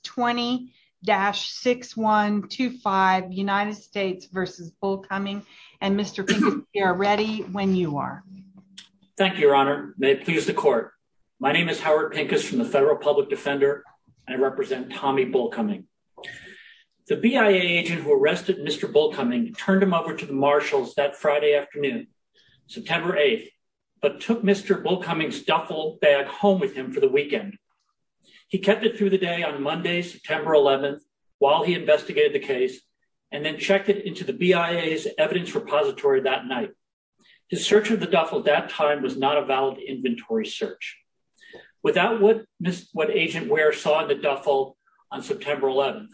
20-6125 United States v. Bullcoming, and Mr. Pincus, we are ready when you are. Thank you, Your Honor. May it please the Court. My name is Howard Pincus from the Federal Public Defender. I represent Tommy Bullcoming. The BIA agent who arrested Mr. Bullcoming turned him over to the Marshals that Friday afternoon, September 8th, but took Mr. Bullcoming's duffel bag home for the weekend. He kept it through the day on Monday, September 11th, while he investigated the case, and then checked it into the BIA's evidence repository that night. His search of the duffel that time was not a valid inventory search. Without what Agent Ware saw in the duffel on September 11th,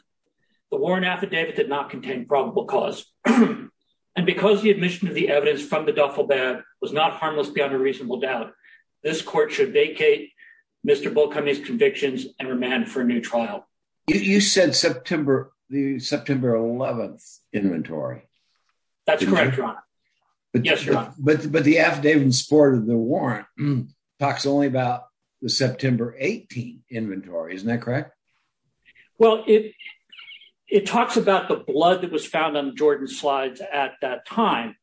the warrant affidavit did not contain probable cause. And because the admission of the evidence from the duffel bag was not harmless beyond a reasonable doubt, this Court should vacate Mr. Bullcoming's convictions and remand for a new trial. You said September, the September 11th inventory. That's correct, Your Honor. Yes, Your Honor. But the affidavit in support of the warrant talks only about the September 18th inventory, isn't that correct? Well, it talks about the blood that was found on Jordan's slides at that time,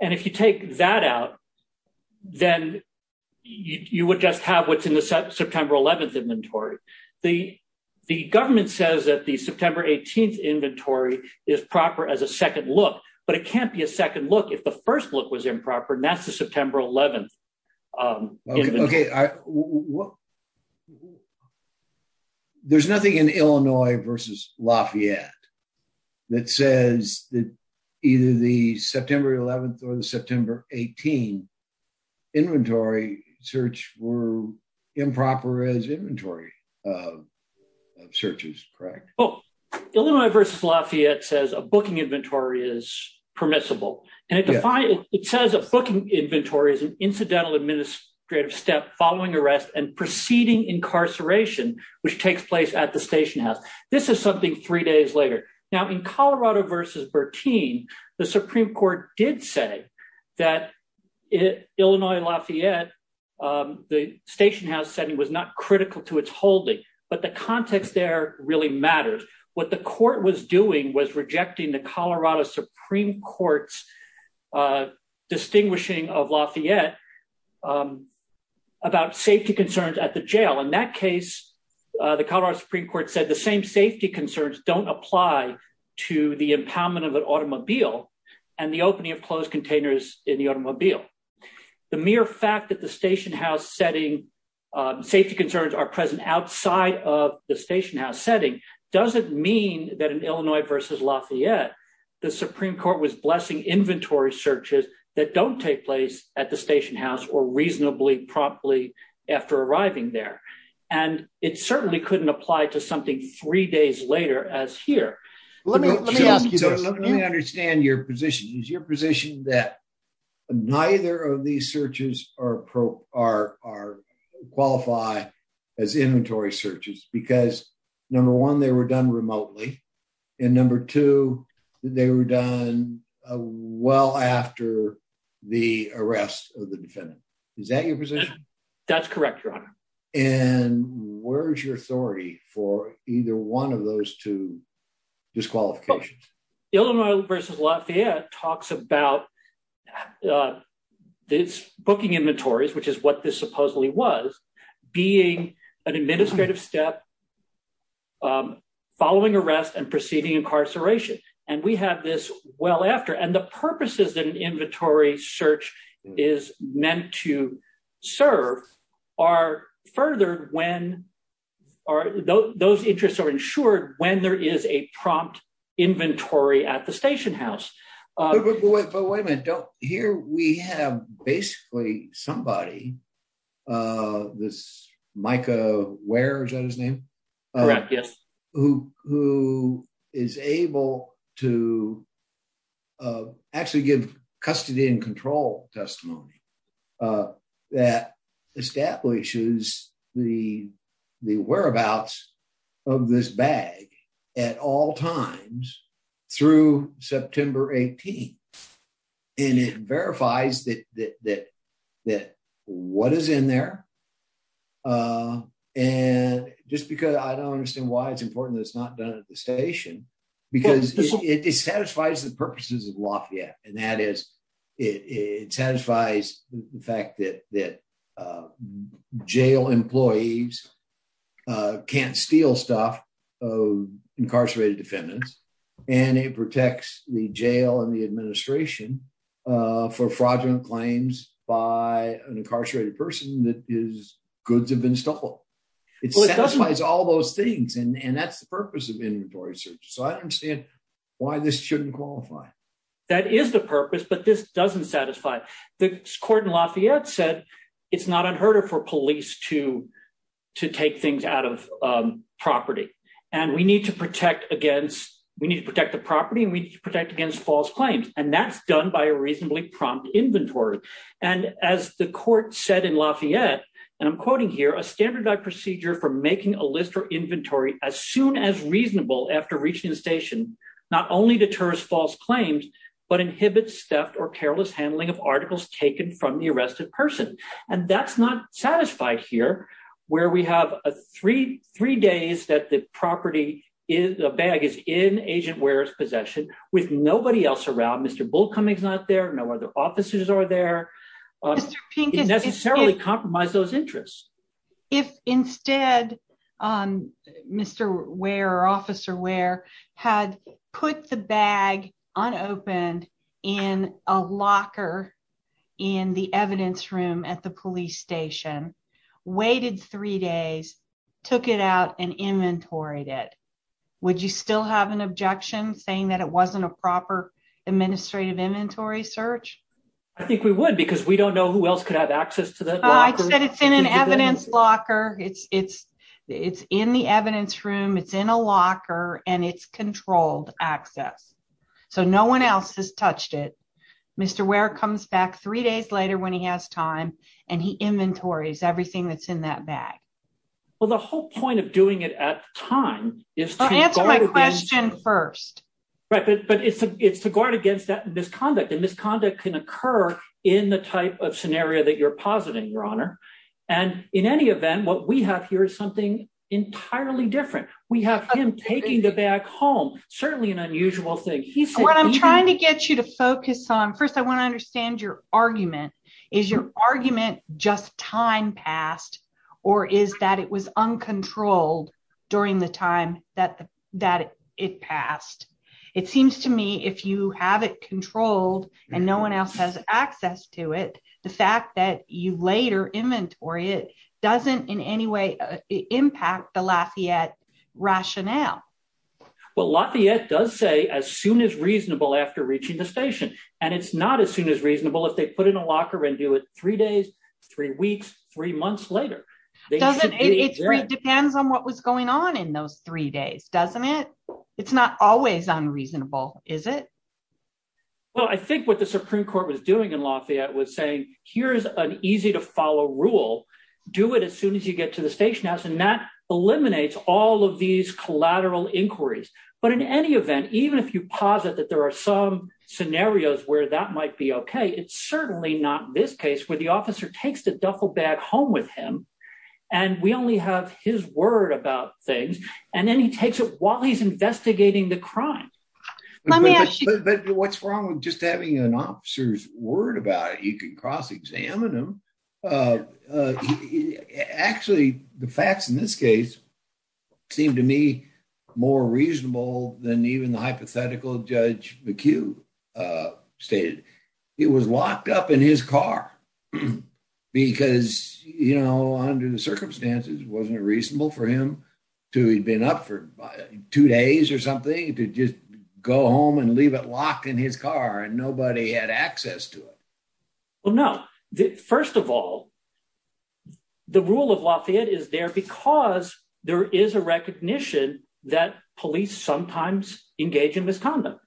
and if you take that out, then you would just have what's in the September 11th inventory. The government says that the September 18th inventory is proper as a second look, but it can't be a second look if the first look was improper, and that's the September 11th inventory. Okay, there's nothing in Illinois v. Lafayette that says that either the September 11th or the September 18th inventory search were improper as inventory searches, correct? Oh, Illinois v. Lafayette says a booking inventory is permissible, and it says a booking inventory is an incidental administrative step following arrest and preceding incarceration, which takes place at the station house. This is something three days later. Now, in Colorado v. Bertine, the Supreme Court did say that Illinois v. Lafayette, the station house setting was not critical to its holding, but the context there really matters. What the court was doing was rejecting the Colorado Supreme Court's distinguishing of Lafayette about safety concerns at the jail. In that case, the Colorado Supreme Court said the same safety concerns don't apply to the impoundment of an automobile and the opening of closed containers in the automobile. The mere fact that the station house setting safety concerns are present outside of the station house setting doesn't mean that in Illinois v. Lafayette, the Supreme Court was inventory searches that don't take place at the station house or reasonably promptly after arriving there. It certainly couldn't apply to something three days later as here. Let me understand your position. Is your position that neither of these searches qualify as inventory searches? Because number one, they were done remotely, and number two, they were done well after the arrest of the defendant. Is that your position? That's correct, Your Honor. And where's your authority for either one of those two disqualifications? Illinois v. Lafayette talks about its booking inventories, which is what this supposedly was, being an administrative step following arrest and preceding incarceration. And we have this well after. And the purposes that an inventory search is meant to serve are further when those interests are ensured when there is a prompt inventory at the station house. But wait a minute. Here we have basically somebody, this Micah Ware, is that his name? Correct, yes. Who is able to actually give custody and control testimony that establishes the whereabouts of this 18? And it verifies that what is in there. And just because I don't understand why it's important that it's not done at the station, because it satisfies the purposes of Lafayette. And that is, it satisfies the fact that jail employees can't steal stuff of incarcerated defendants. And it protects the jail and the administration for fraudulent claims by an incarcerated person that his goods have been stolen. It satisfies all those things. And that's the purpose of inventory search. So I don't understand why this shouldn't qualify. That is the purpose, but this doesn't satisfy. The court in Lafayette said it's not unheard of to take things out of property. And we need to protect against, we need to protect the property and we need to protect against false claims. And that's done by a reasonably prompt inventory. And as the court said in Lafayette, and I'm quoting here, a standardized procedure for making a list or inventory as soon as reasonable after reaching the station, not only deters false claims, but inhibits theft or careless handling of articles taken from the arrested person. And that's not satisfied here, where we have a three days that the property is, a bag is in Agent Ware's possession with nobody else around. Mr. Bullcoming's not there. No other officers are there. It necessarily compromised those interests. If instead, Mr. Ware or Officer Ware had put the bag unopened in a locker in the evidence room at the police station, waited three days, took it out and inventoried it, would you still have an objection saying that it wasn't a proper administrative inventory search? I think we because we don't know who else could have access to that. It's in an evidence locker. It's in the evidence room. It's in a locker and it's controlled access. So no one else has touched it. Mr. Ware comes back three days later when he has time and he inventories everything that's in that bag. Well, the whole point of doing it at time is to answer my question first. But it's to guard against that misconduct and misconduct can occur in the type of scenario that you're positing, Your Honor. And in any event, what we have here is something entirely different. We have him taking the bag home. Certainly an unusual thing. What I'm trying to get you to focus on first, I want to understand your argument. Is your argument just time passed or is that it was uncontrolled during the time that that it passed? It seems to me if you have it controlled and no one else has access to it, the fact that you later inventory it doesn't in any way impact the Lafayette rationale. Well, Lafayette does say as soon as reasonable after reaching the station. And it's not as soon as reasonable if they put in a locker and do it three days, three weeks, three months later. It depends on what was going on in those three days, doesn't it? It's not always unreasonable, is it? Well, I think what the Supreme Court was doing in Lafayette was saying, here's an easy to follow rule. Do it as soon as you get to the station. And that eliminates all of these collateral inquiries. But in any event, even if you posit that there are some it's certainly not this case where the officer takes the duffel bag home with him. And we only have his word about things. And then he takes it while he's investigating the crime. What's wrong with just having an officer's word about it? You can cross examine him. Actually, the facts in this case seem to me more reasonable than even the hypothetical Judge McHugh stated. He was locked up in his car because, you know, under the circumstances, wasn't it reasonable for him to he'd been up for two days or something to just go home and leave it locked in his car and nobody had access to it? Well, no. First of all, the rule of Lafayette is there there is a recognition that police sometimes engage in misconduct.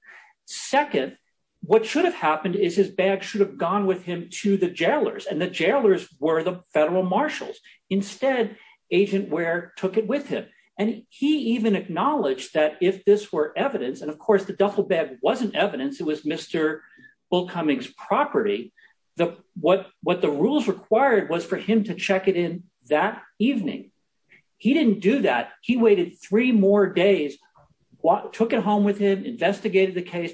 Second, what should have happened is his bag should have gone with him to the jailers and the jailers were the federal marshals. Instead, Agent Ware took it with him. And he even acknowledged that if this were evidence, and of course, the duffel bag wasn't evidence, it was Mr. Bull Cummings' property, what what the rules required was for him to check it in that evening. He didn't do that. He waited three more days, took it home with him, investigated the case.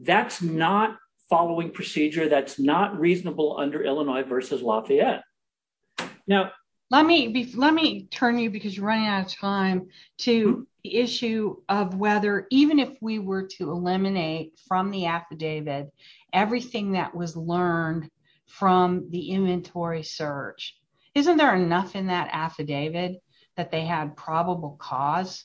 That's not following procedure. That's not reasonable under Illinois versus Lafayette. Now, let me let me turn you because you're running out of time to the issue of whether even if we were to eliminate from the from the inventory search, isn't there enough in that affidavit that they had probable cause?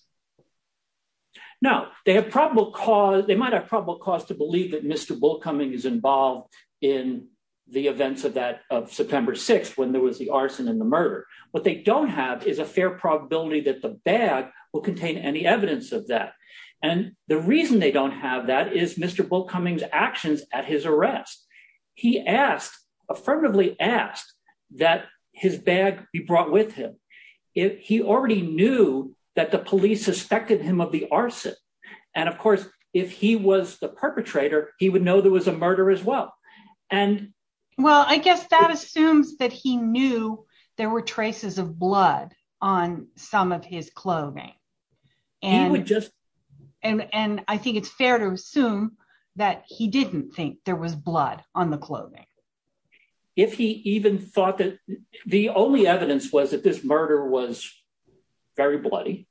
No, they have probable cause, they might have probable cause to believe that Mr. Bull Cummings is involved in the events of that of September 6th when there was the arson and the murder. What they don't have is a fair probability that the bag will contain any evidence of that. And the reason they don't have that is Mr. Bull Cummings' actions at his arrest. He asked, affirmatively asked, that his bag be brought with him. He already knew that the police suspected him of the arson. And of course, if he was the perpetrator, he would know there was a murder as well. And well, I guess that assumes that he knew there were traces of blood on some of his clothing. And we just and and I think it's fair to assume that he didn't think there was blood on the clothing. If he even thought that the only evidence was that this murder was very bloody.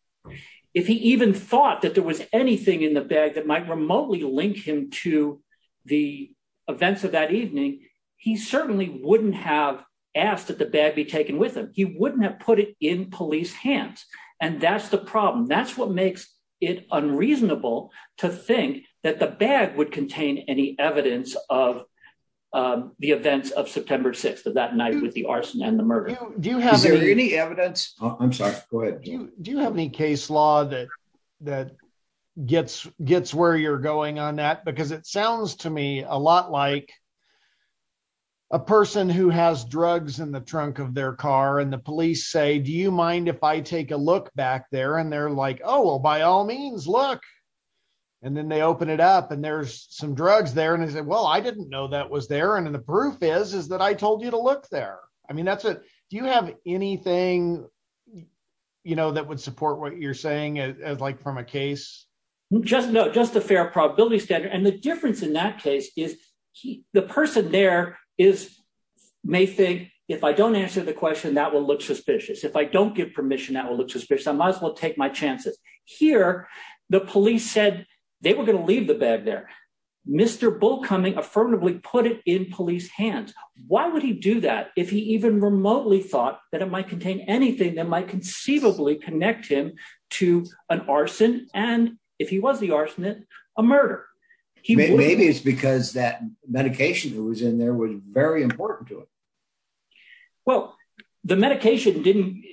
If he even thought that there was anything in the bag that might remotely link him to the events of that evening, he certainly wouldn't have asked that the bag be taken with him. He That's what makes it unreasonable to think that the bag would contain any evidence of the events of September 6th of that night with the arson and the murder. Do you have any evidence? I'm sorry, go ahead. Do you have any case law that gets where you're going on that? Because it sounds to me a lot like a person who has drugs in the trunk of their car and the police say, you mind if I take a look back there? And they're like, oh, well, by all means, look. And then they open it up. And there's some drugs there. And he said, well, I didn't know that was there. And the proof is, is that I told you to look there. I mean, that's it. Do you have anything, you know, that would support what you're saying as like from a case? Just no, just a fair probability standard. And the difference in that case is the person there is may think if I don't answer the question, that will look suspicious. If I don't give permission, that will look suspicious. I might as well take my chances here. The police said they were going to leave the bag there. Mr. Bullcoming affirmatively put it in police hands. Why would he do that if he even remotely thought that it might contain anything that might conceivably connect him to an arson? And if he was the arsonist, a murder, maybe it's because that medication that was in there was very important to him. Well, the medication didn't.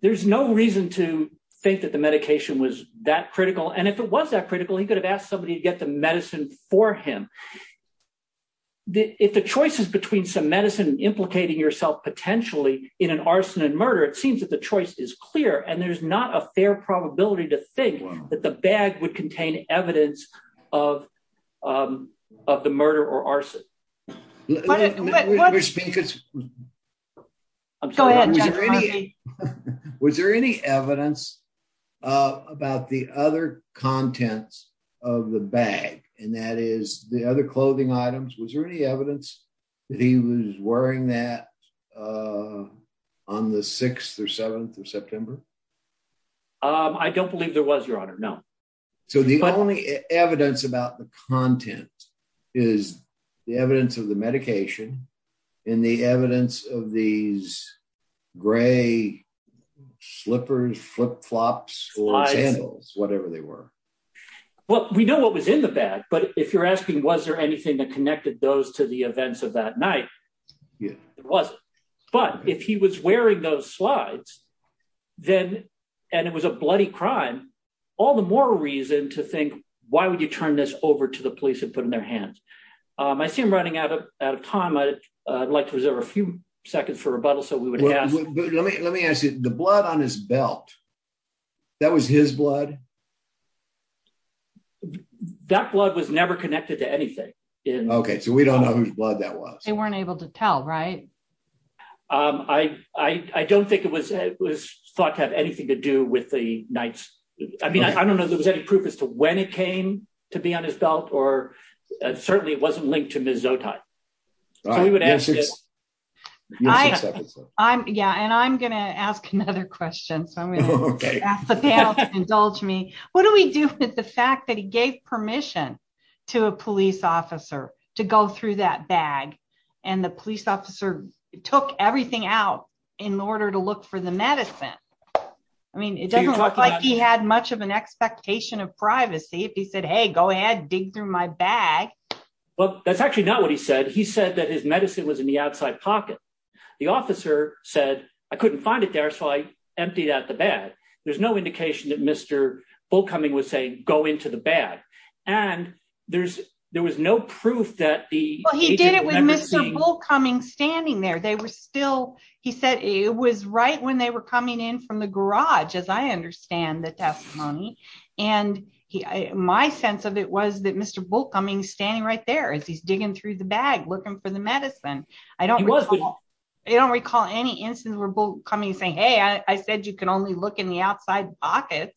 There's no reason to think that the medication was that critical. And if it was that critical, he could have asked somebody to get the medicine for him. If the choices between some medicine implicating yourself potentially in an arson and murder, it seems that the choice is clear. And there's not a fair probability to think that the bag would contain evidence of the murder or arson. Was there any evidence about the other contents of the bag, and that is the other clothing items? Was there any evidence that he was wearing that on the 6th or 7th of September? I don't believe there was, Your Honor. No. So the only evidence about the content is the evidence of the medication and the evidence of these gray slippers, flip-flops, sandals, whatever they were. Well, we know what was in the bag, but if you're asking was there anything that connected those to the events of that night, there wasn't. But if he was wearing those slides, and it was a bloody crime, all the more reason to think, why would you turn this over to the police and put in their hands? I see I'm running out of time. I'd like to reserve a few seconds for rebuttal. So let me ask you, the blood on his belt, that was his blood? That blood was never connected to anything. Okay, so we don't know whose blood that was. They weren't able to tell, right? I don't think it was thought to have anything to do with the night. I mean, I don't know if there was any proof as to when it came to be on his belt, or certainly it wasn't linked to Ms. Zotai. Yeah, and I'm going to ask another question, so I'm going to ask the panel to indulge me. What do we do with the fact that he gave permission to a police officer to go through that bag, and the police officer took everything out in order to look for the medicine? I mean, it doesn't look like he had much of an expectation of privacy if he said, hey, go ahead, dig through my bag. Well, that's actually not what he said. He said that his medicine was in the outside pocket. The officer said, I couldn't find it there, so I emptied out the bag. There's no indication that Mr. Bullcoming was saying, go into the bag, and there was no proof that the agent would ever see. Well, he did it with Mr. Bullcoming standing there. They were still, he said, it was right when they were coming in from the garage, as I understand the testimony, and my sense of it was that Mr. Bullcoming's standing right there as he's digging through the bag, looking for the medicine. I don't recall any instance where Bullcoming's saying, hey, I said you can only look in the bag.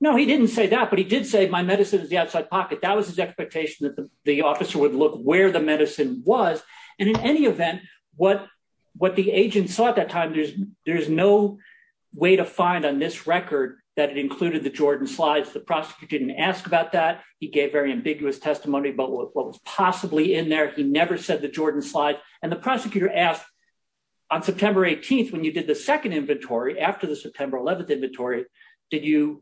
No, he didn't say that, but he did say my medicine is the outside pocket. That was his expectation that the officer would look where the medicine was, and in any event, what the agent saw at that time, there's no way to find on this record that it included the Jordan slides. The prosecutor didn't ask about that. He gave very ambiguous testimony about what was possibly in there. He never said the Jordan slide, and the prosecutor asked on September 18th when you did the second inventory after the September 11th inventory, did you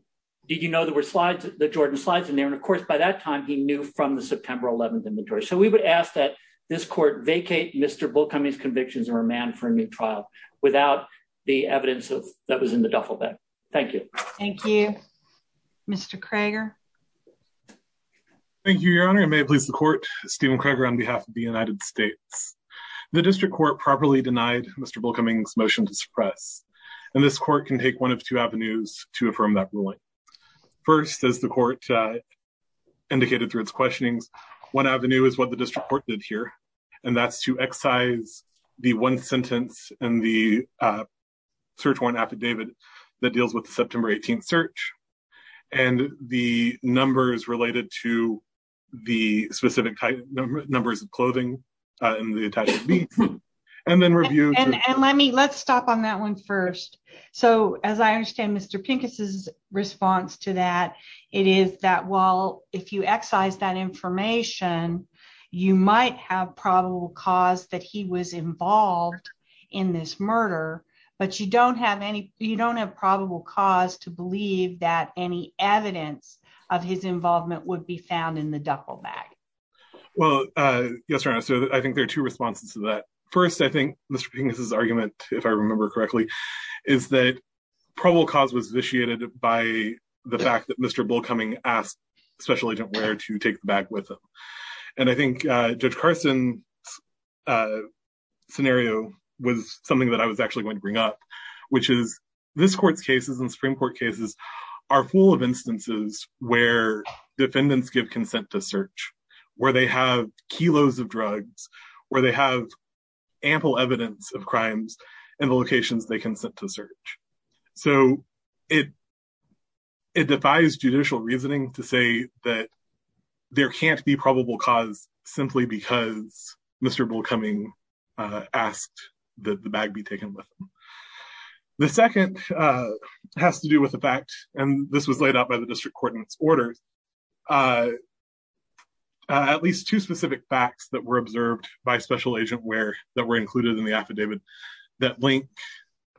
know there were slides, the Jordan slides in there, and of course, by that time, he knew from the September 11th inventory, so we would ask that this court vacate Mr. Bullcoming's convictions and remand for a new trial without the evidence that was in the duffel bag. Thank you. Thank you. Mr. Krager. Thank you, Your Honor. I may please the court. Stephen Krager on behalf of the United States. The district court properly denied Mr. Bullcoming's motion to suppress, and this court can take one of two avenues to affirm that ruling. First, as the court indicated through its questionings, one avenue is what the district court did here, and that's to excise the one sentence in the search warrant affidavit that deals with the September 18th attack. Let's stop on that one first. As I understand Mr. Pincus's response to that, it is that while if you excise that information, you might have probable cause that he was involved in this murder, but you don't have probable cause to believe that any evidence of his involvement would be found in the duffel bag. Well, yes, Your Honor, so I think there are two responses to that. First, I think Mr. Pincus's argument, if I remember correctly, is that probable cause was initiated by the fact that Mr. Bullcoming asked Special Agent Ware to take the bag with him, and I think Judge Carson's scenario was something that I was actually going to bring up, which is this court's cases and Supreme Court cases are full of instances where defendants give consent to search, where they have kilos of drugs, where they have ample evidence of crimes in the locations they consent to search. So it defies judicial reasoning to say that there can't be probable cause simply because Mr. Bullcoming asked that the bag be taken with him. The second has to do with the fact, and this was laid out by the district court in its orders, at least two specific facts that were observed by Special Agent Ware that were included in the affidavit that link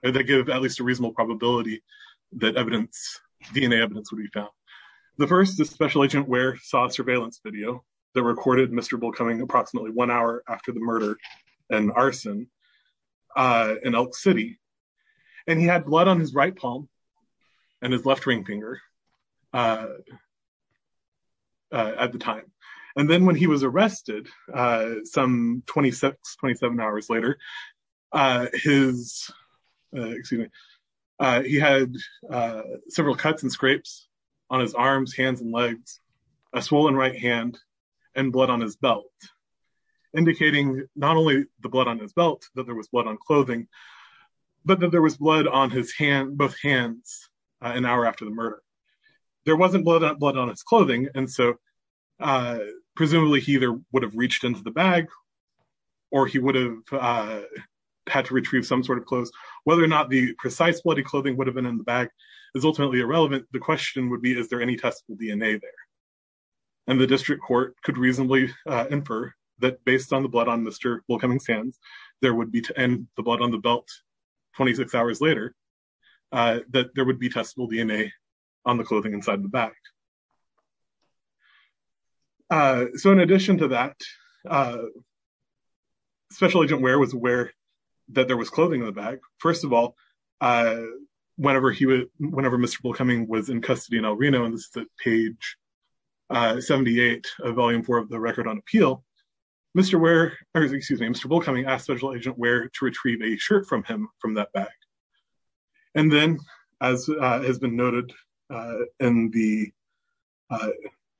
or that give at least a reasonable probability that DNA evidence would be found. The first is Special Agent Ware saw a surveillance video that recorded Mr. Bullcoming approximately one hour after the murder and arson in Elk City, and he had blood on his right palm and his left ring finger at the time, and then when he was arrested some 26-27 hours later, he had several cuts and scrapes on his arms, hands, and legs, a swollen right hand, and blood on his belt, indicating not only the blood on his belt, that there was blood on clothing, but that there was blood on both hands an hour after the murder. There wasn't blood on his clothing, and so presumably he either would have reached into the bag or he would have had to retrieve some sort of clothes. Whether or not the precise bloody clothing would have been in the bag is ultimately irrelevant. The question would be, is there any testable DNA there? And the district court could reasonably infer that based on the blood on Mr. Bullcoming's hands, and the blood on the belt 26 hours later, that there would be testable DNA on the clothing inside the bag. So in addition to that, Special Agent Ware was aware that there was clothing in the bag. First of all, whenever Mr. Bullcoming was in custody in El Reno, and this is page 78 of Volume 4 of the Record on Appeal, Mr. Ware, or excuse me, Mr. Bullcoming asked Special Agent Ware to retrieve a shirt from him from that bag. And then, as has been noted in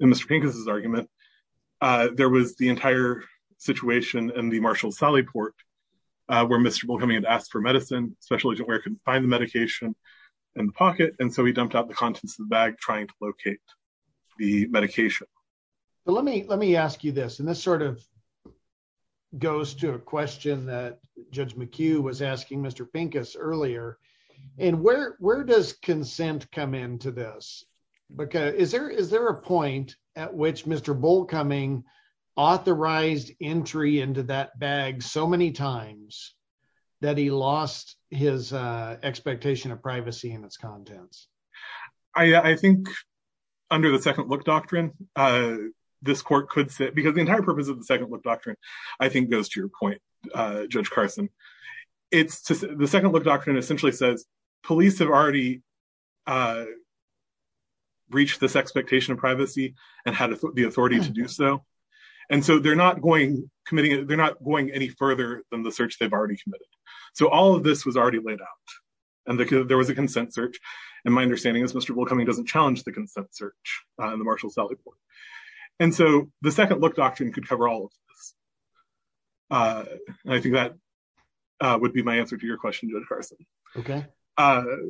Mr. Pincus's argument, there was the entire situation in the Marshall-Sally Port where Mr. Bullcoming had asked for medicine, Special Agent Ware couldn't find the medication in the pocket, and so he dumped out the contents of the bag trying to locate the medication. Let me ask you this, and this sort of goes to a question that Judge McHugh was asking Mr. Pincus earlier, and where does consent come into this? Because is there a point at which Mr. Bullcoming authorized entry into that bag so many times that he lost his expectation of privacy in its contents? I think under the Second Look Doctrine, this court could sit, because the entire purpose of the Second Look Doctrine, I think, goes to your point, Judge Carson. The Second Look Doctrine essentially says police have already reached this expectation of privacy and had the authority to do so, and so they're not going committing, they're not going any further than the search they've already committed. So all of this was already laid out, and there was a consent search, and my understanding is Mr. Bullcoming doesn't challenge the consent search in the Marshall-Sally Port, and so the Second Look Doctrine could cover all of this. I think that would be my answer to your question, Judge Carson.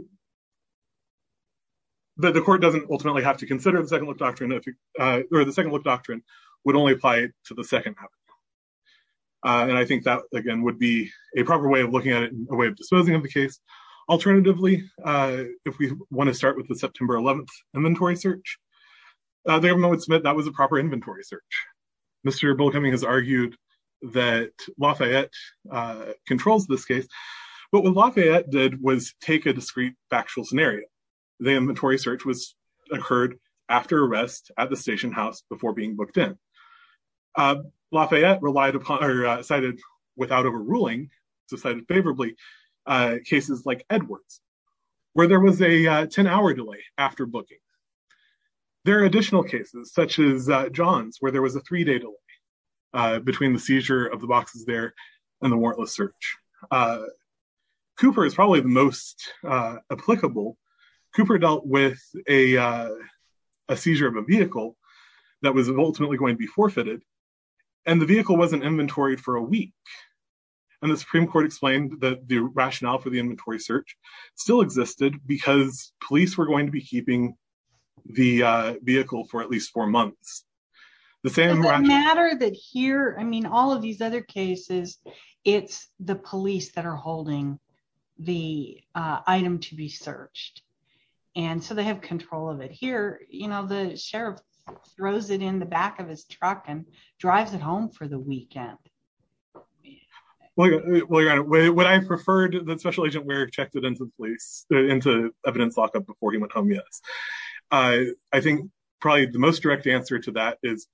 But the court doesn't ultimately have to consider the Second Look Doctrine, or the Second Would be a proper way of looking at it, a way of disposing of the case. Alternatively, if we want to start with the September 11th inventory search, the government would submit that was a proper inventory search. Mr. Bullcoming has argued that Lafayette controls this case, but what Lafayette did was take a discrete factual scenario. The inventory search occurred after arrest at the without overruling, cited favorably, cases like Edwards, where there was a 10-hour delay after booking. There are additional cases, such as Johns, where there was a three-day delay between the seizure of the boxes there and the warrantless search. Cooper is probably the most applicable. Cooper dealt with a seizure of a vehicle that was ultimately going to be forfeited, and the vehicle wasn't inventoried for a week. The Supreme Court explained that the rationale for the inventory search still existed because police were going to be keeping the vehicle for at least four months. The same matter that here, I mean all of these other cases, it's the police that are holding the item to be searched, and so they have control of it. Here, you know, the sheriff throws it in the back of his truck and drives it home for the weekend. Well, your honor, would I have preferred that Special Agent Warrick checked it into police, into evidence lockup before he went home? Yes. I think probably the most direct answer to that is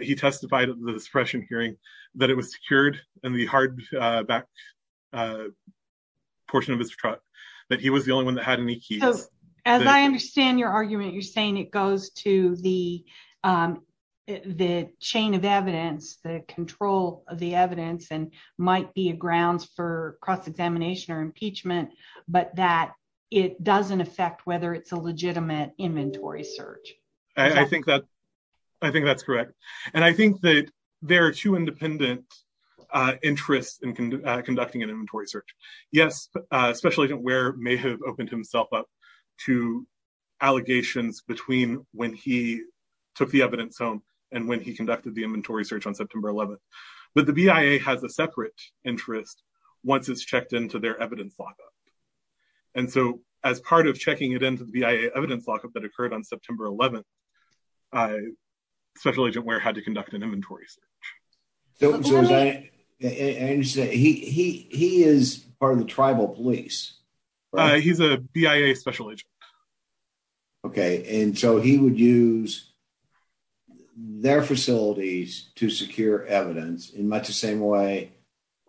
he testified at the suppression hearing that it was secured in the hard back portion of his truck, that he was the only one that had any keys. As I understand your argument, you're saying it goes to the chain of evidence, the control of the evidence, and might be a grounds for cross-examination or impeachment, but that it doesn't affect whether it's a legitimate inventory search. I think that's correct, and I think that there are two independent interests in conducting an inventory search. Yes, Special Agent Warrick may have opened himself up to allegations between when he took the evidence home and when he conducted the inventory search on September 11th, but the BIA has a separate interest once it's checked into their evidence lockup, and so as part of checking it into the BIA evidence lockup that occurred on September 11th, Special Agent Warrick had to conduct an inventory search. He is part of the tribal police? He's a BIA Special Agent. Okay, and so he would use their facilities to secure evidence in much the same way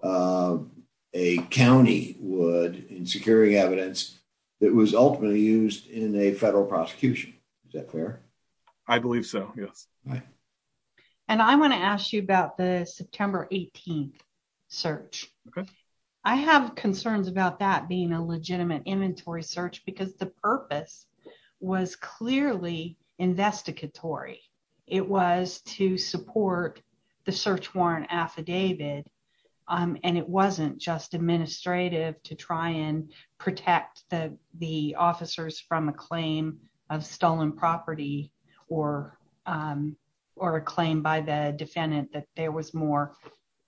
a county would in securing evidence that was ultimately used in a federal prosecution. Is that fair? I believe so, yes. And I want to ask you about the September 18th search. I have concerns about that being a legitimate inventory search because the purpose was clearly investigatory. It was to support the search warrant affidavit, and it wasn't just administrative to try and protect the officers from a claim of stolen property or a claim by the defendant that there was more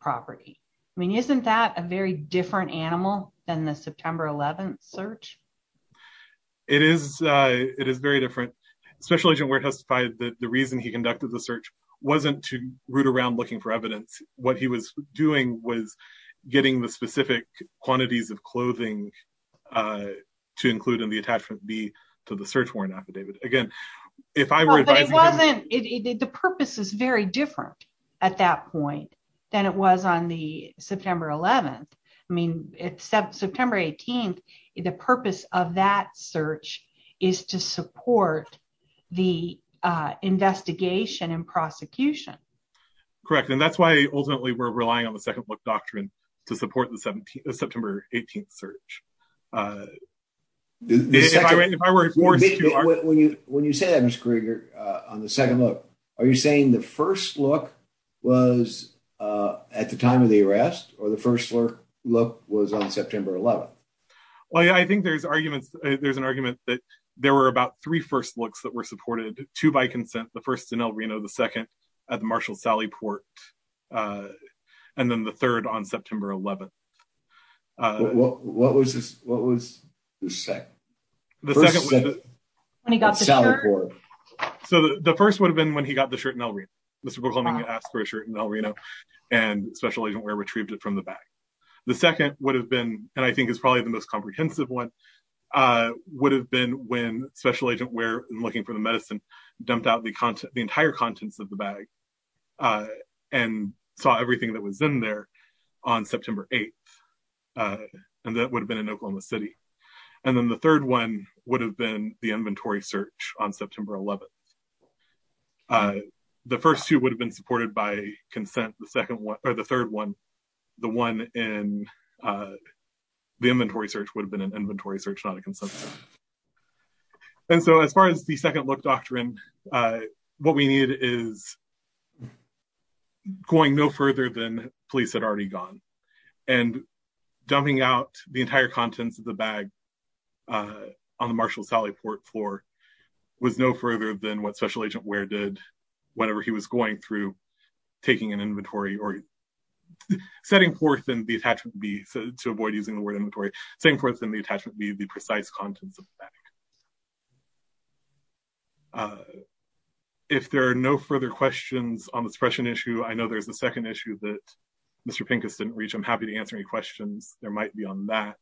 property. I mean, isn't that a very different animal than the September 11th search? It is very different. Special Agent Warrick testified that the reason he conducted the search wasn't to root around looking for evidence. What he was doing was getting the specific attachment B to the search warrant affidavit. The purpose is very different at that point than it was on the September 11th. I mean, September 18th, the purpose of that search is to support the investigation and prosecution. Correct, and that's why ultimately we're relying on the second look doctrine to support the September 18th search. When you say that, Mr. Krieger, on the second look, are you saying the first look was at the time of the arrest, or the first look was on September 11th? Well, yeah, I think there's arguments. There's an argument that there were about three first looks that were supported, two by consent, the first in El Reno, the second at the Marshall-Sally Port, and then the third on September 11th. What was the second? The first would have been when he got the shirt in El Reno. Mr. Bookleman asked for a shirt in El Reno, and Special Agent Warrick retrieved it from the bag. The second would have been, and I think is probably the most comprehensive one, would have been when Special Agent Warrick, looking for the medicine, dumped out the entire contents of the bag and saw everything that was in there on September 8th, and that would have been in Oklahoma City. And then the third one would have been the inventory search on September 11th. The first two would have been supported by consent, the second one, or the third one, the one in the inventory search would have been an inventory search, not a consent. And so as far as the second look doctrine, what we needed is going no further than police had already gone, and dumping out the entire contents of the bag on the Marshall-Sally Port floor was no further than what Special Agent Warrick did whenever he was going through taking an inventory, or setting forth in the attachment B, to avoid using the word inventory, setting forth in the attachment B the precise contents of the bag. If there are no further questions on the suppression issue, I know there's a second issue that Mr. Pincus didn't reach. I'm happy to answer any questions there might be on that.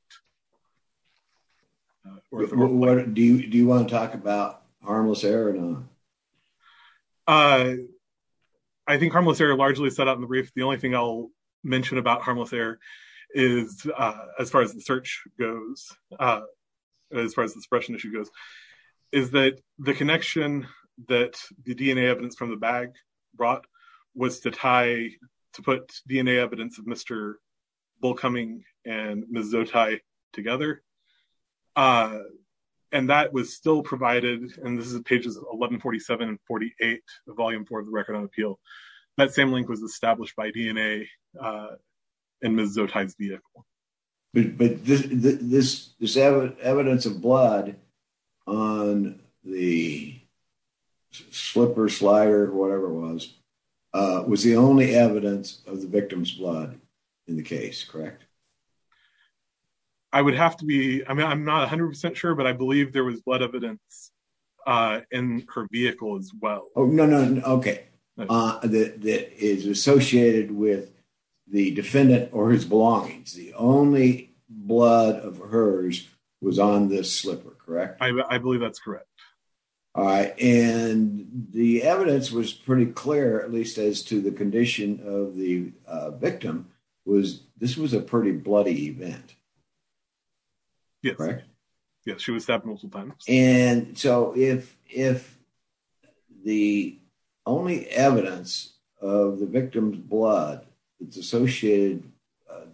Do you want to talk about harmless air or not? I think harmless air largely set out in the brief. The only thing I'll mention about harmless air is, as far as the search goes, as far as the suppression issue goes, is that the connection that the DNA evidence from the bag brought was to tie, to put DNA evidence of Mr. Bullcoming and Ms. Zotai together. And that was still provided, and this is pages 1147 and 48, the volume four of the Record on Appeal, that same link was established by DNA in Ms. Zotai's vehicle. But this evidence of blood on the slipper, correct? I would have to be, I mean, I'm not 100% sure, but I believe there was blood evidence in her vehicle as well. Oh, no, no, okay. That is associated with the defendant or his belongings. The only blood of hers was on this slipper, correct? I believe that's correct. All right. And the evidence was pretty clear, at least as to the condition of the victim, was this was a pretty bloody event, right? Yes, she was stabbed multiple times. And so if the only evidence of the victim's blood that's associated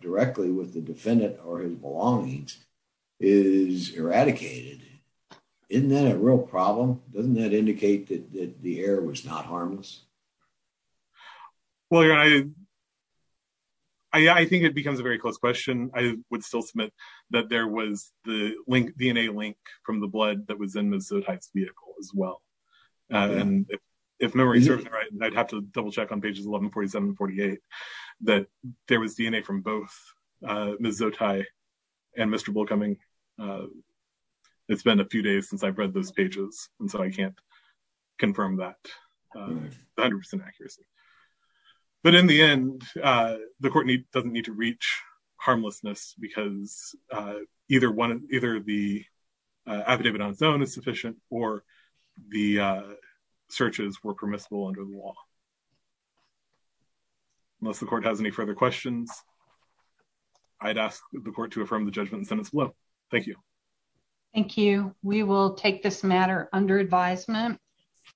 directly with the defendant or his belongings is eradicated, isn't that a real problem? Doesn't that indicate that the error was not harmless? Well, I think it becomes a very close question. I would still submit that there was the DNA link from the blood that was in Ms. Zotai's vehicle as well. And if memory serves me right, I'd have to double check on pages 1147 and 48, that there was DNA from both Ms. Zotai and Mr. Bullcoming. It's been a few days since I've read those pages, and so I can't confirm that 100% accuracy. But in the end, the court doesn't need to reach harmlessness because either the affidavit on its own is sufficient or the searches were permissible under the law. Unless the court has any further questions, I'd ask the court to affirm the judgment in the sentence below. Thank you. Thank you. We will take this matter under advisement.